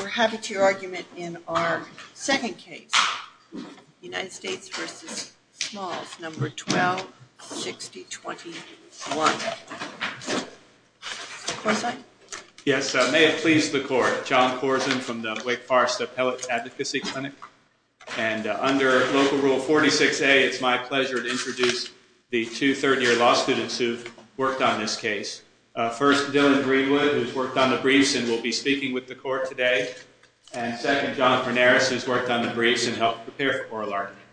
We're happy to hear your argument in our second case, United States v. Smalls, No. 126021. Mr. Corzine? Yes, may it please the Court. John Corzine from the Wake Forest Appellate Advocacy Clinic. And under Local Rule 46A, it's my pleasure to introduce the two third-year law students who've worked on this case. First, Dylan Greenwood, who's worked on the briefs and will be speaking with the Court today. And second, John Frenaris, who's worked on the briefs and helped prepare for oral argument.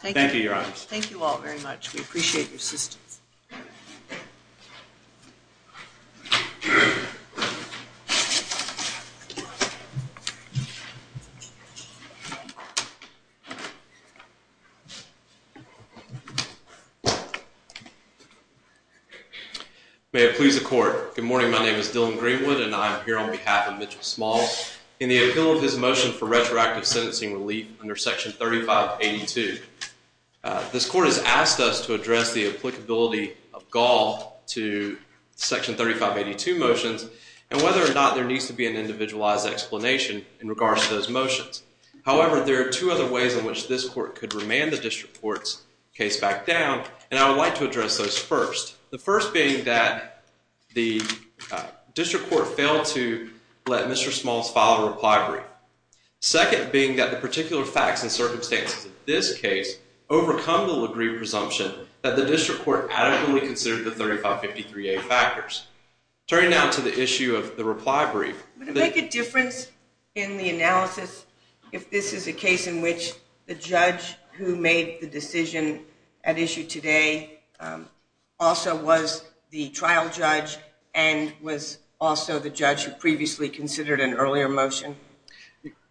Thank you, Your Honor. Thank you all very much. We appreciate your assistance. May it please the Court. Good morning, my name is Dylan Greenwood, and I'm here on behalf of Mitchell Smalls in the appeal of his motion for retroactive sentencing relief under Section 3582. This Court has asked us to address the applicability of Gall to Section 3582 motions, and whether or not there needs to be an individualized explanation in regards to those motions. However, there are two other ways in which this Court could remand the District Court's case back down, and I would like to address those first. The first being that the District Court failed to let Mr. Smalls file a reply brief. Second being that the particular facts and circumstances of this case overcome the presumption that the District Court adequately considered the 3553A factors. Turning now to the issue of the reply brief. Would it make a difference in the analysis if this is a case in which the judge who made the decision at issue today also was the trial judge, and was also the judge who previously considered an earlier motion?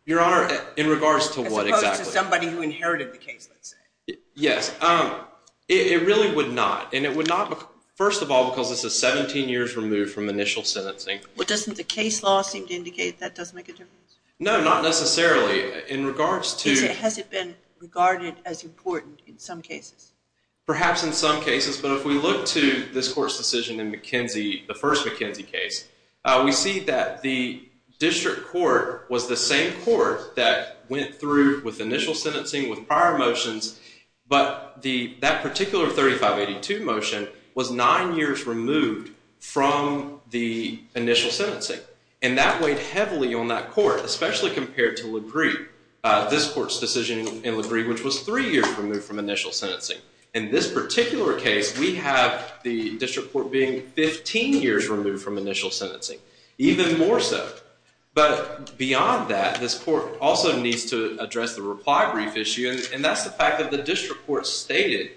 Your Honor, in regards to what exactly? As opposed to somebody who inherited the case, let's say. Yes. It really would not, and it would not, first of all, because this is 17 years removed from initial sentencing. Well, doesn't the case law seem to indicate that doesn't make a difference? No, not necessarily. In regards to... Has it been regarded as important in some cases? Perhaps in some cases, but if we look to this court's decision in McKenzie, the first McKenzie case, we see that the District Court was the same court that went through with initial sentencing with prior motions, but that particular 3582 motion was nine years removed from the initial sentencing, and that weighed heavily on that court, especially compared to LaGreve, this court's decision in LaGreve, which was three years removed from initial sentencing. In this particular case, we have the District Court being 15 years removed from initial sentencing, even more so. But beyond that, this court also needs to address the reply brief issue, and that's the fact that the District Court stated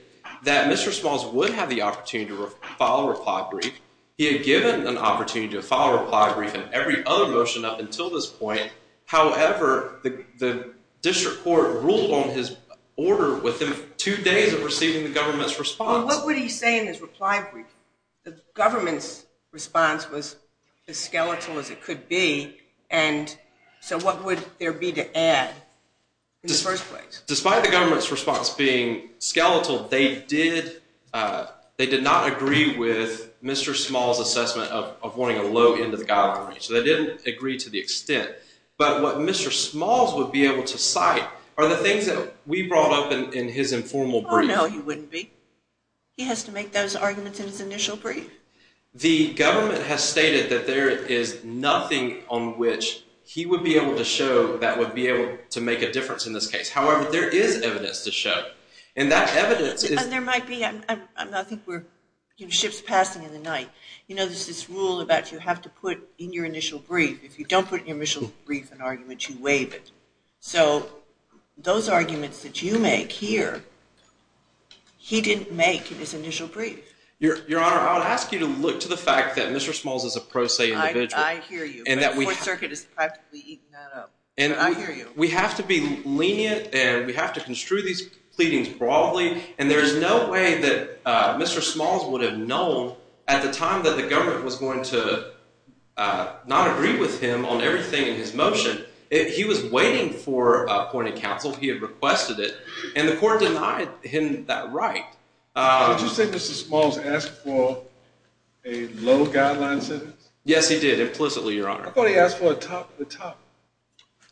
that Mr. Smalls would have the opportunity to file a reply brief. He had given an opportunity to file a reply brief in every other motion up until this point. However, the District Court ruled on his order within two days of receiving the government's response. Well, what would he say in his reply brief? The government's response was as skeletal as it could be, and so what would there be to add in the first place? Despite the government's response being skeletal, they did not agree with Mr. Smalls' assessment of wanting a low end of the guidelines. They didn't agree to the extent. But what Mr. Smalls would be able to cite are the things that we brought up in his informal brief. Oh, no, he wouldn't be. He has to make those arguments in his initial brief. The government has stated that there is nothing on which he would be able to show that would be able to make a difference in this case. However, there is evidence to show, and that evidence is— And there might be—I think we're ships passing in the night. You know, there's this rule about you have to put in your initial brief. If you don't put in your initial brief an argument, you waive it. So those arguments that you make here, he didn't make in his initial brief. Your Honor, I would ask you to look to the fact that Mr. Smalls is a pro se individual. I hear you, but the Court Circuit has practically eaten that up. I hear you. We have to be lenient, and we have to construe these pleadings broadly, and there is no way that Mr. Smalls would have known at the time that the government was going to not agree with him on everything in his motion. He was waiting for a point of counsel. He had requested it, and the Court denied him that right. Did you say Mr. Smalls asked for a low guideline sentence? Yes, he did, implicitly, Your Honor. I thought he asked for a top to top.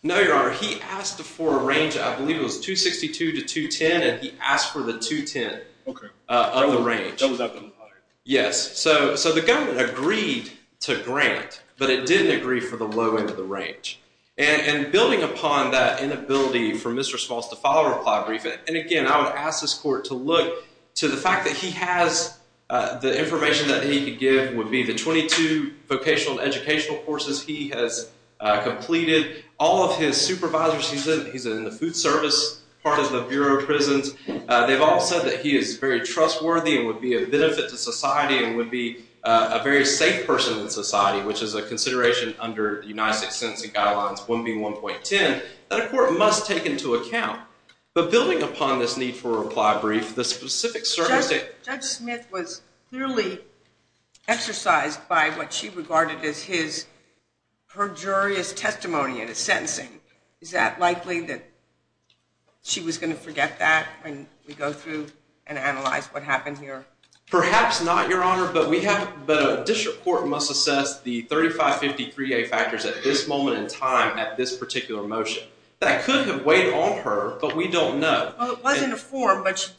No, Your Honor. He asked for a range. I believe it was 262 to 210, and he asked for the 210 of the range. Okay. That was up in the high. Yes. So the government agreed to grant, but it didn't agree for the low end of the range. And building upon that inability for Mr. Smalls to file a reply brief, and again I would ask this Court to look to the fact that he has the information that he could give would be the 22 vocational and educational courses he has completed, all of his supervisors, he's in the food service part of the Bureau of Prisons, they've all said that he is very trustworthy and would be a benefit to society and would be a very safe person in society, which is a consideration under United States Sentencing Guidelines 1B1.10 that a court must take into account. But building upon this need for a reply brief, the specific circumstances Judge Smith was clearly exercised by what she regarded as her jury's testimony in his sentencing. Is that likely that she was going to forget that when we go through and analyze what happened here? Perhaps not, Your Honor, but a district court must assess the 3553A factors at this moment in time at this particular motion. That could have weighed on her, but we don't know. Well, it was in the form, but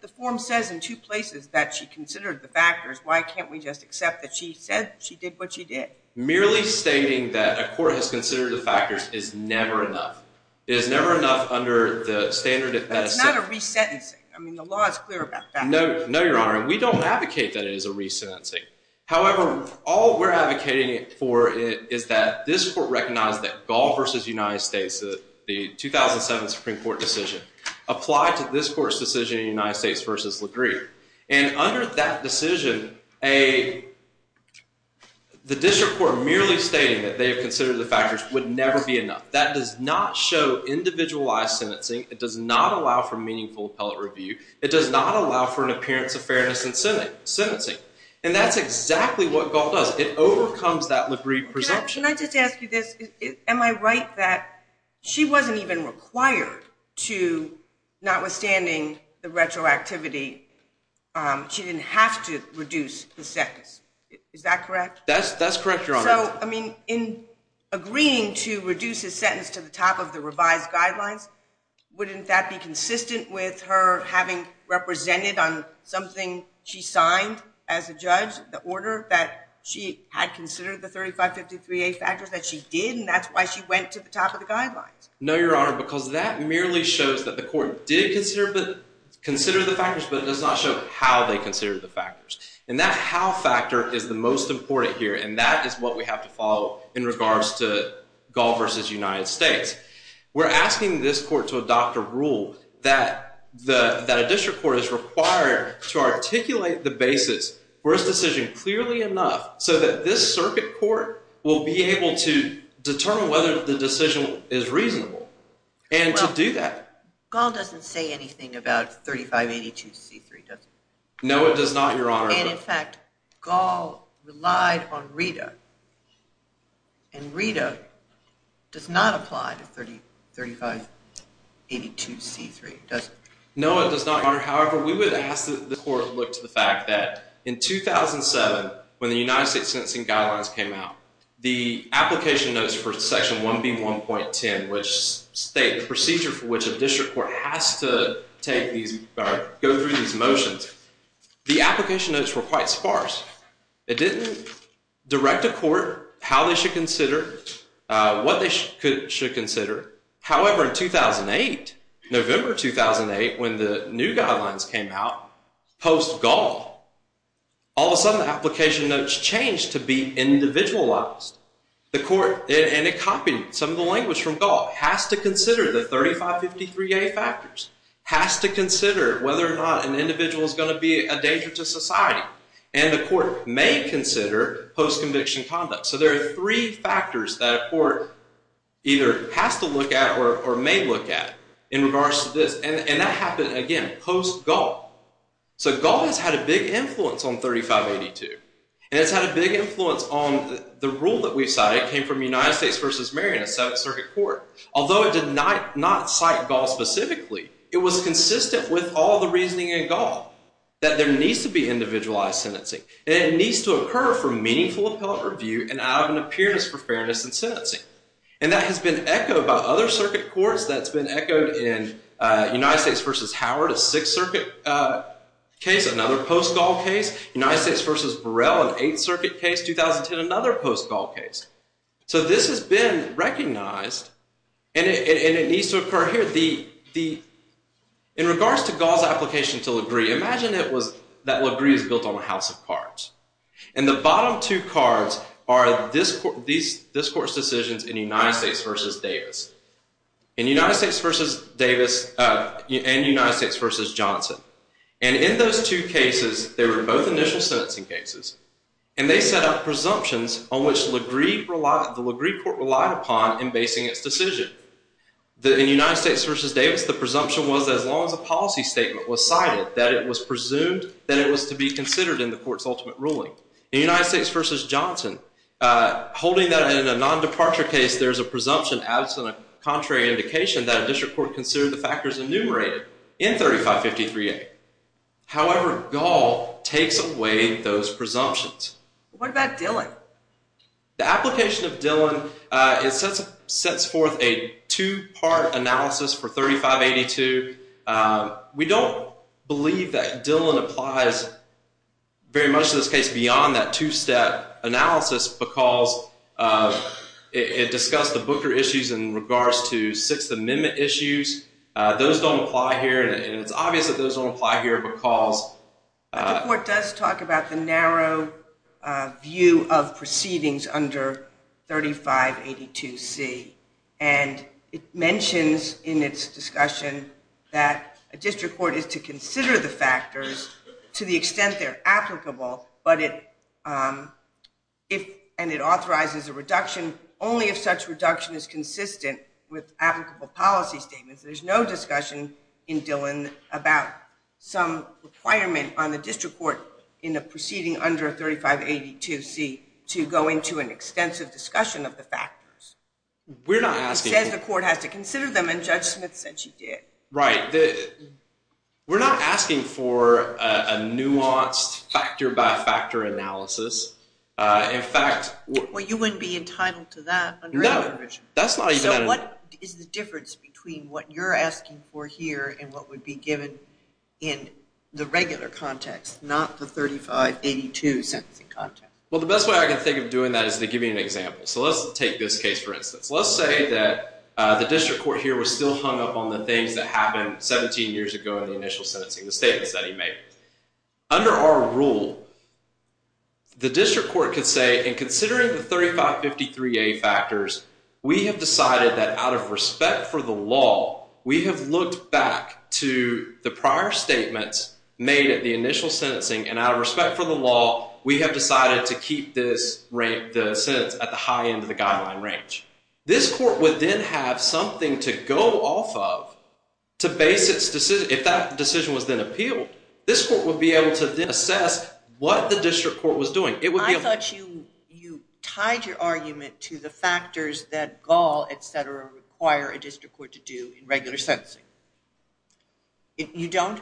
the form says in two places that she considered the factors. Why can't we just accept that she said she did what she did? Merely stating that a court has considered the factors is never enough. It is never enough under the standard that is set. But it's not a resentencing. I mean, the law is clear about that. No, Your Honor. We don't advocate that it is a resentencing. However, all we're advocating for is that this Court recognize that Gaul v. United States, the 2007 Supreme Court decision, applied to this Court's decision in United States v. LaGrieve. And under that decision, the district court merely stating that they have considered the factors would never be enough. That does not show individualized sentencing. It does not allow for meaningful appellate review. It does not allow for an appearance of fairness in sentencing. And that's exactly what Gaul does. It overcomes that LaGrieve presumption. Can I just ask you this? Am I right that she wasn't even required to, notwithstanding the retroactivity, she didn't have to reduce the sentence? Is that correct? That's correct, Your Honor. So, I mean, in agreeing to reduce his sentence to the top of the revised guidelines, wouldn't that be consistent with her having represented on something she signed as a judge, the order that she had considered the 3553A factors that she did, and that's why she went to the top of the guidelines? No, Your Honor, because that merely shows that the Court did consider the factors, but it does not show how they considered the factors. And that how factor is the most important here, and that is what we have to follow in regards to Gaul v. United States. We're asking this Court to adopt a rule that a district court is required to articulate the basis for its decision clearly enough so that this circuit court will be able to determine whether the decision is reasonable and to do that. Well, Gaul doesn't say anything about 3582C3, does it? No, it does not, Your Honor. And, in fact, Gaul relied on Rita, and Rita does not apply to 3582C3, does it? No, it does not, Your Honor. However, we would ask that the Court look to the fact that in 2007, when the United States Sentencing Guidelines came out, the application notes for Section 1B1.10, which states the procedure for which a district court has to go through these motions, the application notes were quite sparse. It didn't direct the Court how they should consider, what they should consider. However, in 2008, November 2008, when the new guidelines came out, post-Gaul, all of a sudden the application notes changed to be individualized. The Court, and it copied some of the language from Gaul, has to consider the 3553A factors, has to consider whether or not an individual is going to be a danger to society, and the Court may consider post-conviction conduct. So there are three factors that a Court either has to look at or may look at in regards to this, and that happened, again, post-Gaul. So Gaul has had a big influence on 3582, and it's had a big influence on the rule that we've cited, it came from United States v. Marion, a Seventh Circuit Court. Although it did not cite Gaul specifically, it was consistent with all the reasoning in Gaul, that there needs to be individualized sentencing, and it needs to occur from meaningful appellate review, and out of an appearance for fairness in sentencing. And that has been echoed by other Circuit Courts, that's been echoed in United States v. Howard, a Sixth Circuit case, another post-Gaul case, United States v. Burrell, an Eighth Circuit case, 2010, another post-Gaul case. So this has been recognized, and it needs to occur here. In regards to Gaul's application to Lagree, imagine that Lagree is built on a house of cards. And the bottom two cards are this Court's decisions in United States v. Davis, and United States v. Johnson. And in those two cases, they were both initial sentencing cases, and they set up presumptions on which the Lagree Court relied upon in basing its decision. In United States v. Davis, the presumption was as long as a policy statement was cited, that it was presumed that it was to be considered in the Court's ultimate ruling. In United States v. Johnson, holding that in a non-departure case, there's a presumption absent a contrary indication that a district court considered the factors enumerated in 3553A. However, Gaul takes away those presumptions. What about Dillon? The application of Dillon, it sets forth a two-part analysis for 3582. We don't believe that Dillon applies very much in this case beyond that two-step analysis because it discussed the Booker issues in regards to Sixth Amendment issues. Those don't apply here, and it's obvious that those don't apply here because... The Court does talk about the narrow view of proceedings under 3582C, and it mentions in its discussion that a district court is to consider the factors to the extent they're applicable, and it authorizes a reduction only if such reduction is consistent with applicable policy statements. There's no discussion in Dillon about some requirement on the district court in a proceeding under 3582C to go into an extensive discussion of the factors. We're not asking... It says the Court has to consider them, and Judge Smith said she did. Right. We're not asking for a nuanced factor-by-factor analysis. In fact... Well, you wouldn't be entitled to that under our provision. No, that's not even... So what is the difference between what you're asking for here and what would be given in the regular context, not the 3582 sentencing context? Well, the best way I can think of doing that is to give you an example. So let's take this case, for instance. Let's say that the district court here was still hung up on the things that happened 17 years ago in the initial sentencing, the statements that he made. Under our rule, the district court could say, in considering the 3553A factors, we have decided that out of respect for the law, we have looked back to the prior statements made at the initial sentencing, and out of respect for the law, we have decided to keep the sentence at the high end of the guideline range. This court would then have something to go off of to base its decision. If that decision was then appealed, this court would be able to then assess what the district court was doing. I thought you tied your argument to the factors that gall, et cetera, require a district court to do in regular sentencing. You don't?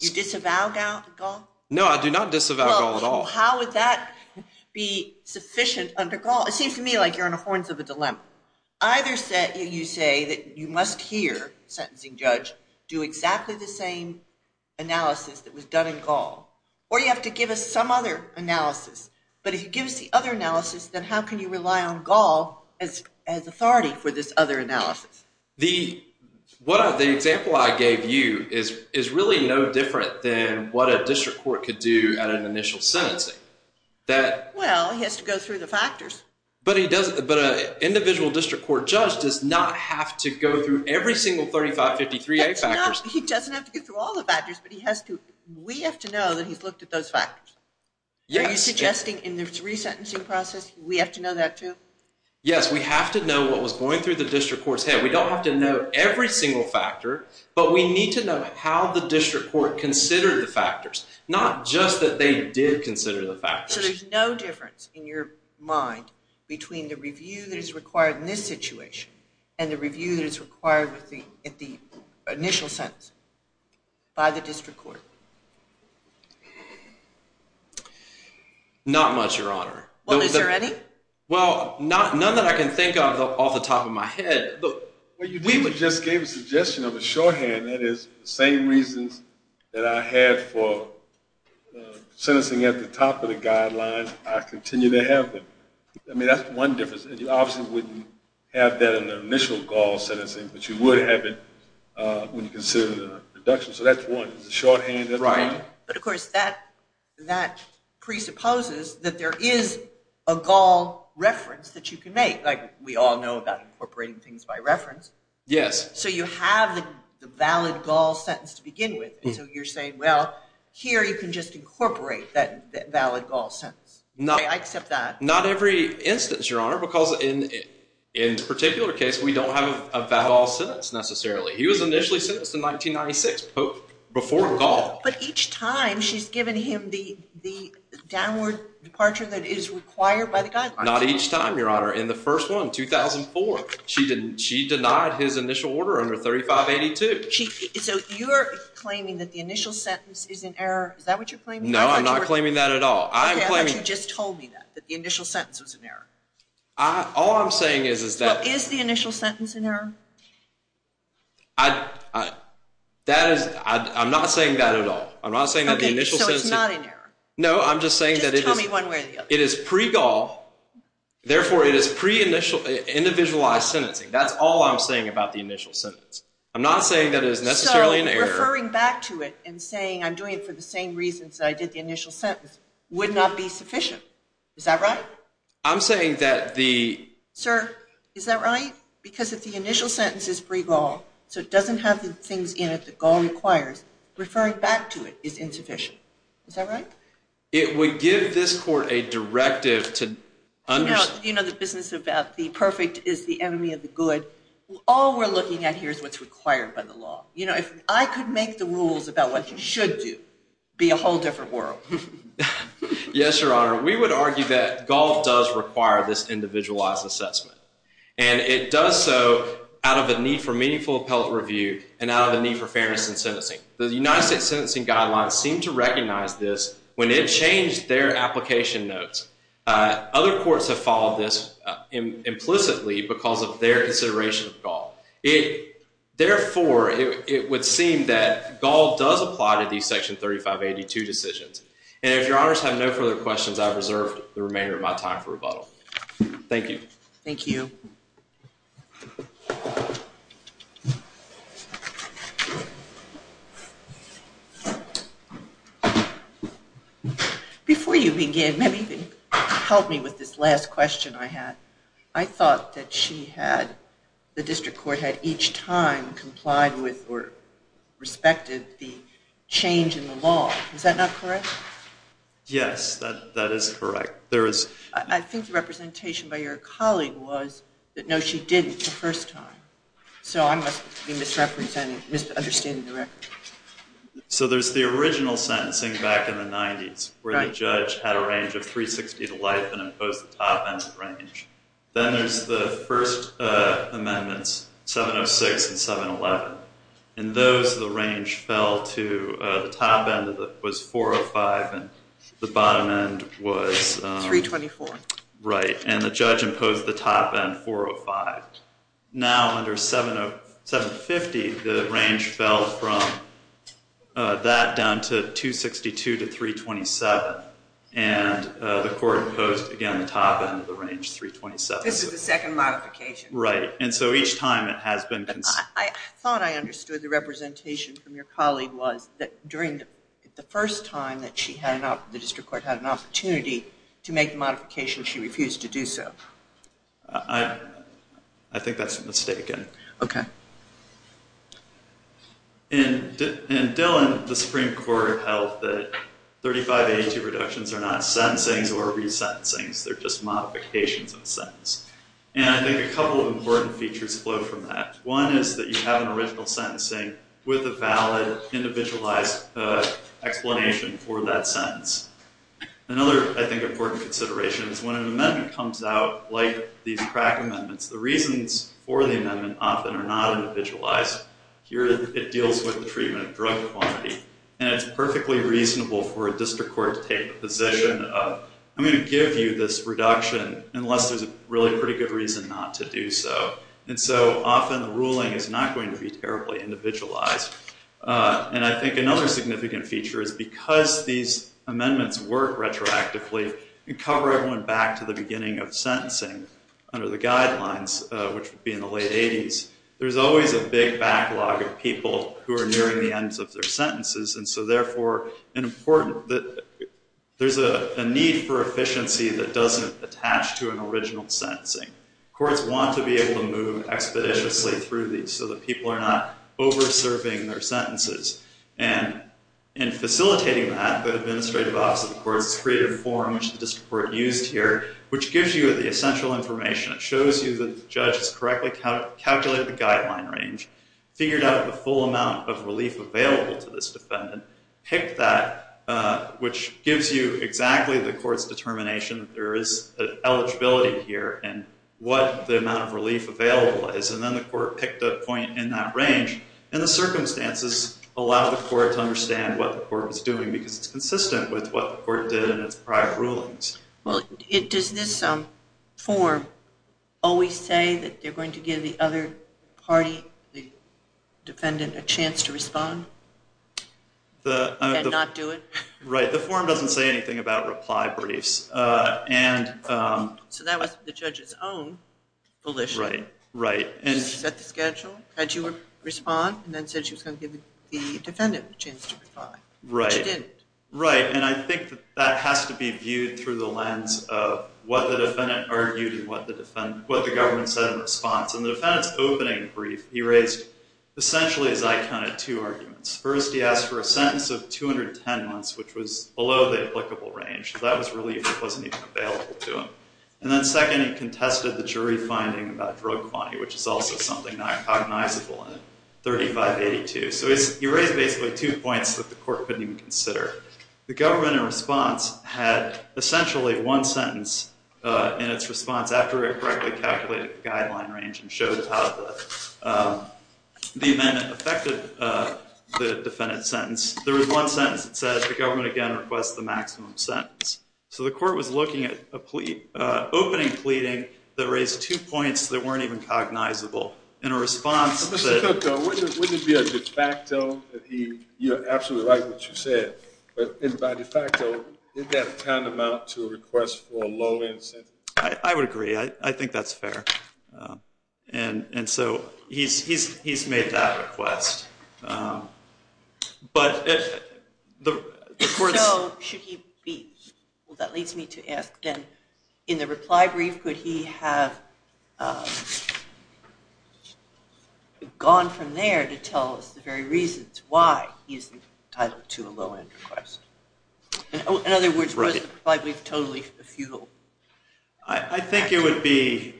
You disavow gall? No, I do not disavow gall at all. How would that be sufficient under gall? It seems to me like you're in the horns of a dilemma. Either you say that you must hear a sentencing judge do exactly the same analysis that was done in gall, or you have to give us some other analysis. But if you give us the other analysis, then how can you rely on gall as authority for this other analysis? The example I gave you is really no different than what a district court could do at an initial sentencing. Well, he has to go through the factors. But an individual district court judge does not have to go through every single 3553A factors. He doesn't have to go through all the factors, but we have to know that he's looked at those factors. Are you suggesting in the resentencing process we have to know that too? Yes, we have to know what was going through the district court's head. We don't have to know every single factor, but we need to know how the district court considered the factors, not just that they did consider the factors. So there's no difference in your mind between the review that is required in this situation and the review that is required at the initial sentence by the district court? Not much, Your Honor. Well, is there any? Well, none that I can think of off the top of my head. You just gave a suggestion of a shorthand. That is the same reasons that I had for sentencing at the top of the guidelines, I continue to have them. I mean, that's one difference. You obviously wouldn't have that in the initial gall sentencing, but you would have it when you consider the deduction. So that's one. It's a shorthand. But, of course, that presupposes that there is a gall reference that you can make, like we all know about incorporating things by reference. Yes. So you have the valid gall sentence to begin with. So you're saying, well, here you can just incorporate that valid gall sentence. I accept that. Not every instance, Your Honor, because in this particular case, we don't have a valid gall sentence necessarily. He was initially sentenced in 1996 before gall. But each time she's given him the downward departure that is required by the guidelines. Not each time, Your Honor. In the first one, 2004, she denied his initial order under 3582. So you're claiming that the initial sentence is in error. Is that what you're claiming? No, I'm not claiming that at all. Okay, I thought you just told me that, that the initial sentence was in error. All I'm saying is that. Well, is the initial sentence in error? I'm not saying that at all. I'm not saying that the initial sentence. Okay, so it's not in error. No, I'm just saying that it is. Just tell me one way or the other. It is pre-gall. Therefore, it is pre-individualized sentencing. That's all I'm saying about the initial sentence. I'm not saying that it is necessarily in error. So referring back to it and saying I'm doing it for the same reasons that I did the initial sentence would not be sufficient. Is that right? I'm saying that the. Sir, is that right? Because if the initial sentence is pre-gall, so it doesn't have the things in it that gall requires, referring back to it is insufficient. Is that right? It would give this court a directive to understand. You know the business about the perfect is the enemy of the good. All we're looking at here is what's required by the law. You know, if I could make the rules about what you should do, it would be a whole different world. Yes, Your Honor. We would argue that gall does require this individualized assessment. And it does so out of a need for meaningful appellate review and out of a need for fairness in sentencing. The United States sentencing guidelines seem to recognize this when it changed their application notes. Other courts have followed this implicitly because of their consideration of gall. Therefore, it would seem that gall does apply to these section 3582 decisions. And if Your Honors have no further questions, I've reserved the remainder of my time for rebuttal. Thank you. Thank you. Before you begin, maybe you can help me with this last question I had. I thought that she had, the district court, had each time complied with or respected the change in the law. Is that not correct? Yes, that is correct. I think the representation by your colleague was that no, she didn't the first time. So I must be misunderstanding the record. So there's the original sentencing back in the 90s, where the judge had a range of 360 to life and imposed the top end range. Then there's the first amendments, 706 and 711. In those, the range fell to the top end was 405 and the bottom end was 324. Right. And the judge imposed the top end 405. Now under 750, the range fell from that down to 262 to 327. And the court imposed, again, the top end of the range, 327. This is the second modification. Right. And so each time it has been considered. I thought I understood the representation from your colleague was that the first time that the district court had an opportunity to make modifications, she refused to do so. I think that's mistaken. Okay. In Dillon, the Supreme Court held that 3582 reductions are not sentencings or resentencings. They're just modifications in a sentence. And I think a couple of important features flow from that. One is that you have an original sentencing with a valid, individualized explanation for that sentence. Another, I think, important consideration is when an amendment comes out like these crack amendments, the reasons for the amendment often are not individualized. Here it deals with the treatment of drug quantity. And it's perfectly reasonable for a district court to take the position of I'm going to give you this reduction unless there's a really pretty good reason not to do so. And so often the ruling is not going to be terribly individualized. And I think another significant feature is because these amendments work retroactively and cover everyone back to the beginning of sentencing under the guidelines, which would be in the late 80s, there's always a big backlog of people who are nearing the ends of their sentences. And so therefore, there's a need for efficiency that doesn't attach to an original sentencing. Courts want to be able to move expeditiously through these so that people are not over-serving their sentences. And in facilitating that, the administrative office of the courts has created a form, which the district court used here, which gives you the essential information. It shows you that the judge has correctly calculated the guideline range, figured out the full amount of relief available to this defendant, picked that, which gives you exactly the court's determination that there is eligibility here and what the amount of relief available is. And then the court picked a point in that range. And the circumstances allow the court to understand what the court was doing because it's consistent with what the court did in its prior rulings. Well, does this form always say that they're going to give the other party, the defendant, a chance to respond and not do it? Right. The form doesn't say anything about reply briefs. So that was the judge's own volition. Right. Set the schedule, had you respond, and then said she was going to give the defendant a chance to reply. Right. But she didn't. Right. And I think that has to be viewed through the lens of what the defendant argued and what the government said in response. In the defendant's opening brief, he raised essentially, as I counted, two arguments. First, he asked for a sentence of 210 months, which was below the applicable range. So that was relief that wasn't even available to him. And then second, he contested the jury finding about drug quantity, which is also something not cognizable in 3582. So he raised basically two points that the court couldn't even consider. The government in response had essentially one sentence in its response after it correctly calculated the guideline range and showed how the And then it affected the defendant's sentence. There was one sentence that said the government, again, requests the maximum sentence. So the court was looking at opening pleading that raised two points that weren't even cognizable. In a response to that. Mr. Cook, wouldn't it be a de facto that he, you're absolutely right what you said, but by de facto, isn't that tantamount to a request for a low-end sentence? I would agree. I think that's fair. And so he's made that request. So should he be? Well, that leads me to ask then, in the reply brief, could he have gone from there to tell us the very reasons why he isn't entitled to a low-end request? In other words, was the reply brief totally futile? I think it would be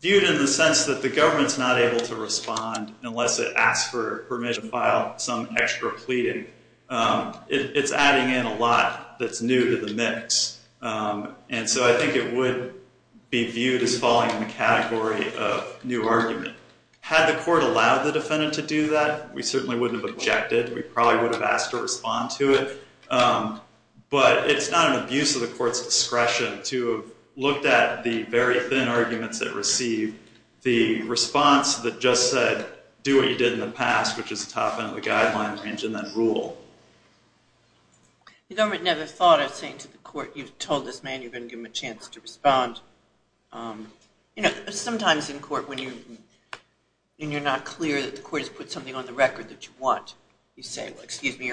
viewed in the sense that the government's not able to respond unless it asks for permission to file some extra pleading. It's adding in a lot that's new to the mix. And so I think it would be viewed as falling in the category of new argument. Had the court allowed the defendant to do that, we certainly wouldn't have objected. We probably would have asked to respond to it. But it's not an abuse of the court's discretion to have looked at the very thin arguments it received, the response that just said, do what you did in the past, which is the top end of the guideline range, and then rule. The government never thought of saying to the court, you've told this man you're going to give him a chance to respond. You know, sometimes in court when you're not clear that the court has put something on the record that you want, you say, well, excuse me,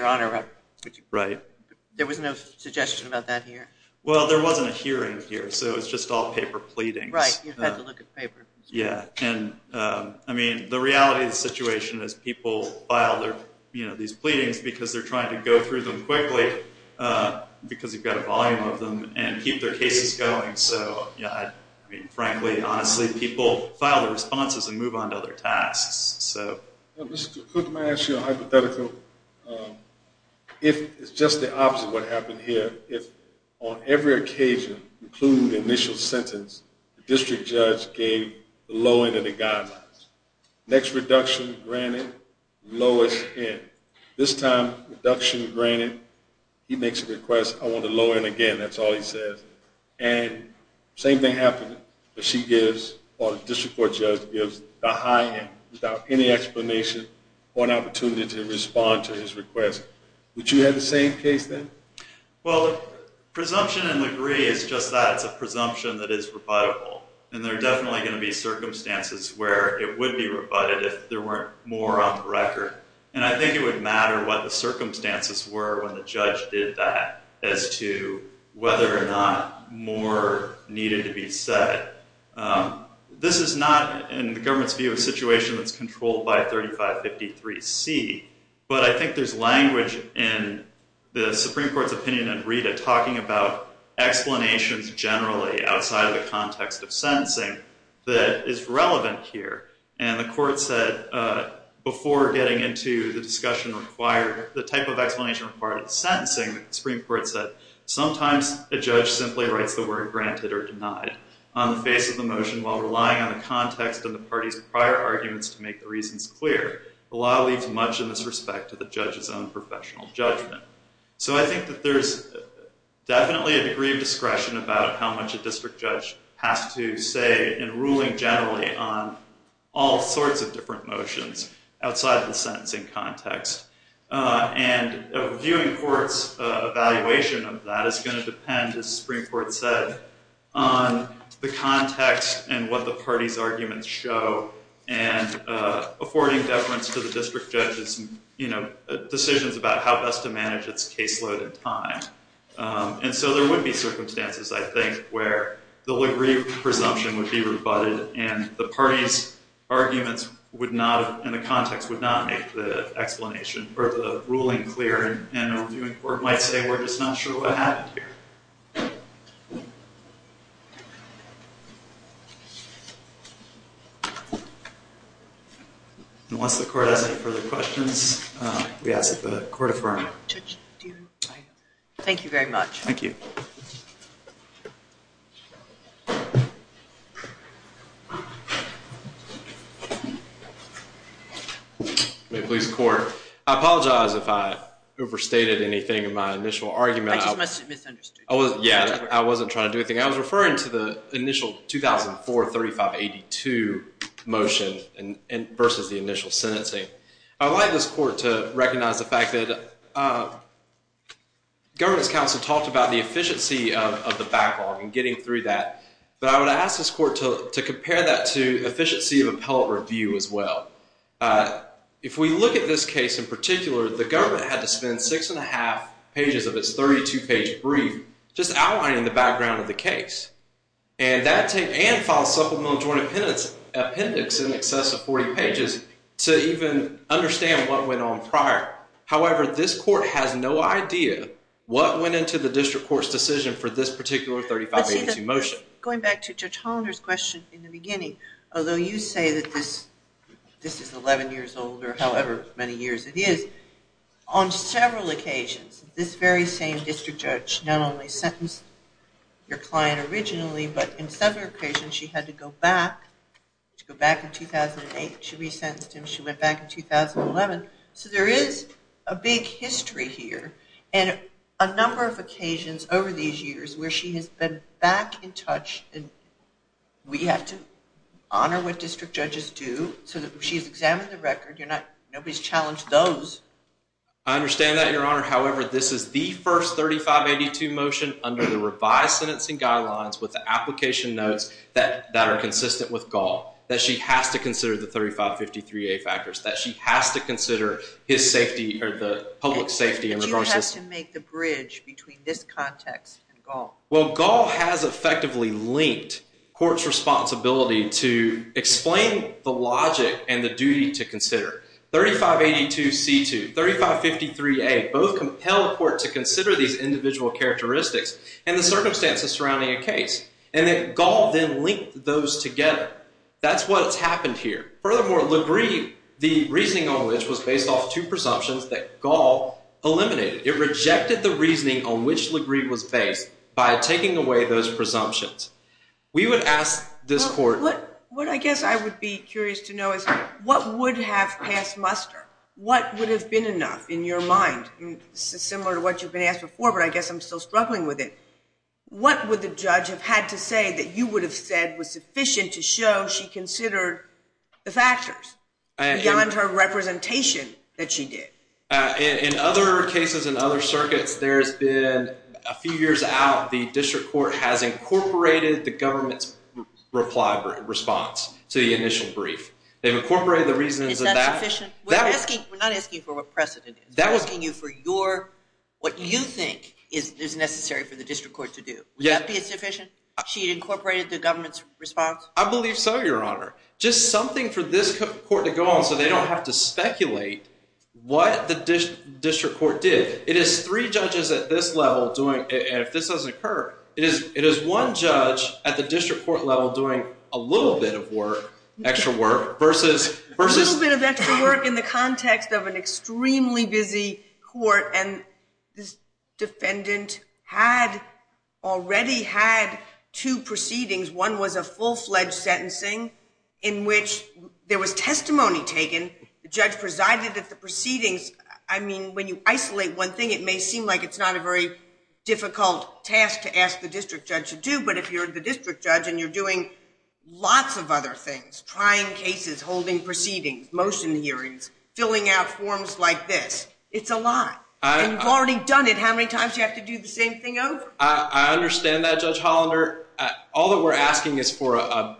there was no suggestion about that here. Well, there wasn't a hearing here, so it was just all paper pleadings. Right, you've had to look at paper. Yeah. And, I mean, the reality of the situation is people file these pleadings because they're trying to go through them quickly because you've got a volume of them and keep their cases going. So, yeah, I mean, frankly, honestly, people file their responses and move on to other tasks. Mr. Cook, may I ask you a hypothetical? If it's just the opposite of what happened here, if on every occasion, including the initial sentence, the district judge gave the low end of the guidelines. Next reduction granted, lowest end. This time, reduction granted, he makes a request, I want the low end again, that's all he says. And same thing happened. She gives, or the district court judge gives the high end without any explanation or an opportunity to respond to his request. Would you have the same case then? Well, presumption and degree is just that. It's a presumption that is rebuttable. And there are definitely going to be circumstances where it would be rebutted if there weren't more on the record. And I think it would matter what the circumstances were when the judge did that as to whether or not more needed to be said. This is not, in the government's view, a situation that's controlled by 3553C, but I think there's language in the Supreme Court's opinion and Rita talking about explanations generally outside of the context of sentencing that is relevant here. And the court said before getting into the discussion required, the type of explanation required in sentencing, the Supreme Court said sometimes a judge simply writes the word granted or denied on the face of the motion while relying on the context of the party's prior arguments to make the reasons clear. The law leaves much in this respect to the judge's own professional judgment. So I think that there's definitely a degree of discretion about how much a district judge has to say in ruling generally on all sorts of different motions outside of the sentencing context. And a viewing court's evaluation of that is going to depend, as the Supreme Court said, on the context and what the party's arguments show and affording deference to the district judge's decisions about how best to manage its caseload in time. And so there would be circumstances, I think, where the presumption would be rebutted and the party's arguments would not, and the context would not make the explanation or the ruling clear. And a viewing court might say, we're just not sure what happened here. And once the court has any further questions, we ask that the court affirm. Thank you very much. Thank you. May it please the court. I apologize if I overstated anything in my initial argument. I just misunderstood. Yeah, I wasn't trying to do anything. I was referring to the initial 2004-3582 motion versus the initial sentencing. I would like this court to recognize the fact that governance council talked about the efficiency of the backlog and getting through that. But I would ask this court to compare that to efficiency of appellate review as well. If we look at this case in particular, the government had to spend six and a half pages of its 32-page brief just outlining the background of the case. And that taped and filed supplemental joint appendix in excess of 40 pages to even understand what went on prior. However, this court has no idea what went into the district court's decision for this particular 3582 motion. Going back to Judge Hollander's question in the beginning, although you say that this is 11 years old or however many years it is, on several occasions this very same district judge not only sentenced your client originally, but on several occasions she had to go back. She had to go back in 2008. She resentenced him. She went back in 2011. So there is a big history here. We have to honor what district judges do. So she's examined the record. Nobody's challenged those. I understand that, Your Honor. However, this is the first 3582 motion under the revised sentencing guidelines with the application notes that are consistent with Gall, that she has to consider the 3553A factors, that she has to consider his safety or the public safety. But you have to make the bridge between this context and Gall. Well, Gall has effectively linked court's responsibility to explain the logic and the duty to consider. 3582C2, 3553A both compelled court to consider these individual characteristics and the circumstances surrounding a case. And then Gall then linked those together. That's what's happened here. Furthermore, LaGrieve, the reasoning on which, was based off two presumptions that Gall eliminated. It rejected the reasoning on which LaGrieve was based by taking away those presumptions. We would ask this court. What I guess I would be curious to know is what would have passed muster? What would have been enough in your mind? Similar to what you've been asked before, but I guess I'm still struggling with it. What would the judge have had to say that you would have said was sufficient to show she considered the factors beyond her representation that she did? In other cases in other circuits, there's been a few years out, the district court has incorporated the government's response to the initial brief. They've incorporated the reasons of that. Is that sufficient? We're not asking for what precedent is. We're asking you for what you think is necessary for the district court to do. Would that be sufficient? She incorporated the government's response? I believe so, Your Honor. Just something for this court to go on so they don't have to speculate what the district court did. It is three judges at this level doing, and if this doesn't occur, it is one judge at the district court level doing a little bit of work, extra work, versus- A little bit of extra work in the context of an extremely busy court, and this defendant had already had two proceedings. One was a full-fledged sentencing in which there was testimony taken. The judge presided at the proceedings. I mean, when you isolate one thing, it may seem like it's not a very difficult task to ask the district judge to do, but if you're the district judge and you're doing lots of other things, trying cases, holding proceedings, motion hearings, filling out forms like this, it's a lot. And you've already done it. How many times do you have to do the same thing over? I understand that, Judge Hollander. All that we're asking is for a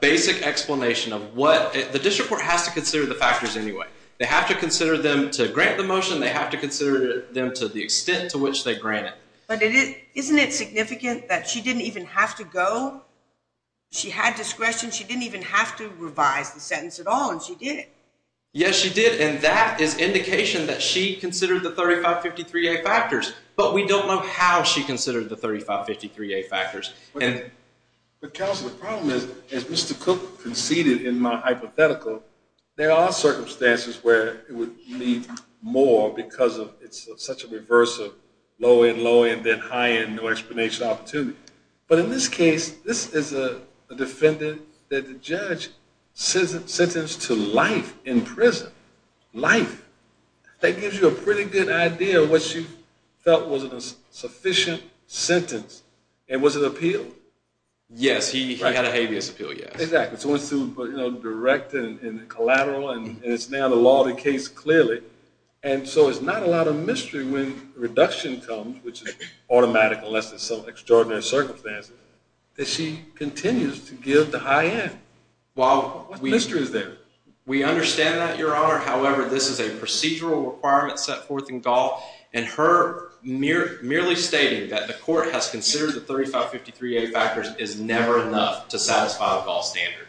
basic explanation of what- the district court has to consider the factors anyway. They have to consider them to grant the motion. They have to consider them to the extent to which they grant it. But isn't it significant that she didn't even have to go? She had discretion. She didn't even have to revise the sentence at all, and she did it. Yes, she did, and that is indication that she considered the 3553A factors, but we don't know how she considered the 3553A factors. Counsel, the problem is, as Mr. Cook conceded in my hypothetical, there are circumstances where it would need more because it's such a reverse of low-end, low-end, then high-end, no explanation opportunity. But in this case, this is a defendant that the judge sentenced to life in prison. Life. That gives you a pretty good idea of what she felt was a sufficient sentence, and was it appealed? Yes, he had a habeas appeal, yes. Exactly. So it's direct and collateral, and it's now the law of the case clearly, and so it's not a lot of mystery when reduction comes, which is automatic unless there's some extraordinary circumstances, that she continues to give the high-end. What mystery is there? We understand that, Your Honor. However, this is a procedural requirement set forth in Gaul, and her merely stating that the court has considered the 3553A factors is never enough to satisfy the Gaul standard.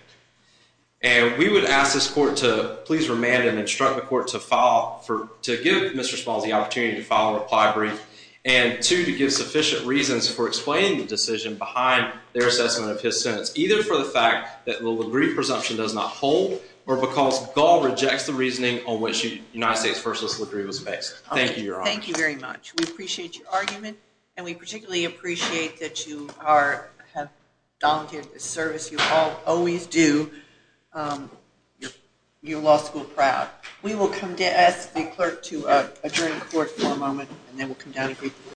And we would ask this court to please remand and instruct the court to file for to give Mr. Smalls the opportunity to file a reply brief, and two, to give sufficient reasons for explaining the decision behind their assessment of his sentence, either for the fact that the LaGrieve presumption does not hold, or because Gaul rejects the reasoning on which the United States First List LaGrieve was based. Thank you, Your Honor. Thank you very much. We appreciate your argument, and we particularly appreciate that you have dominated this service. You always do. You're law school proud. We will come to ask the clerk to adjourn the court for a moment, and then we'll come down and greet the court.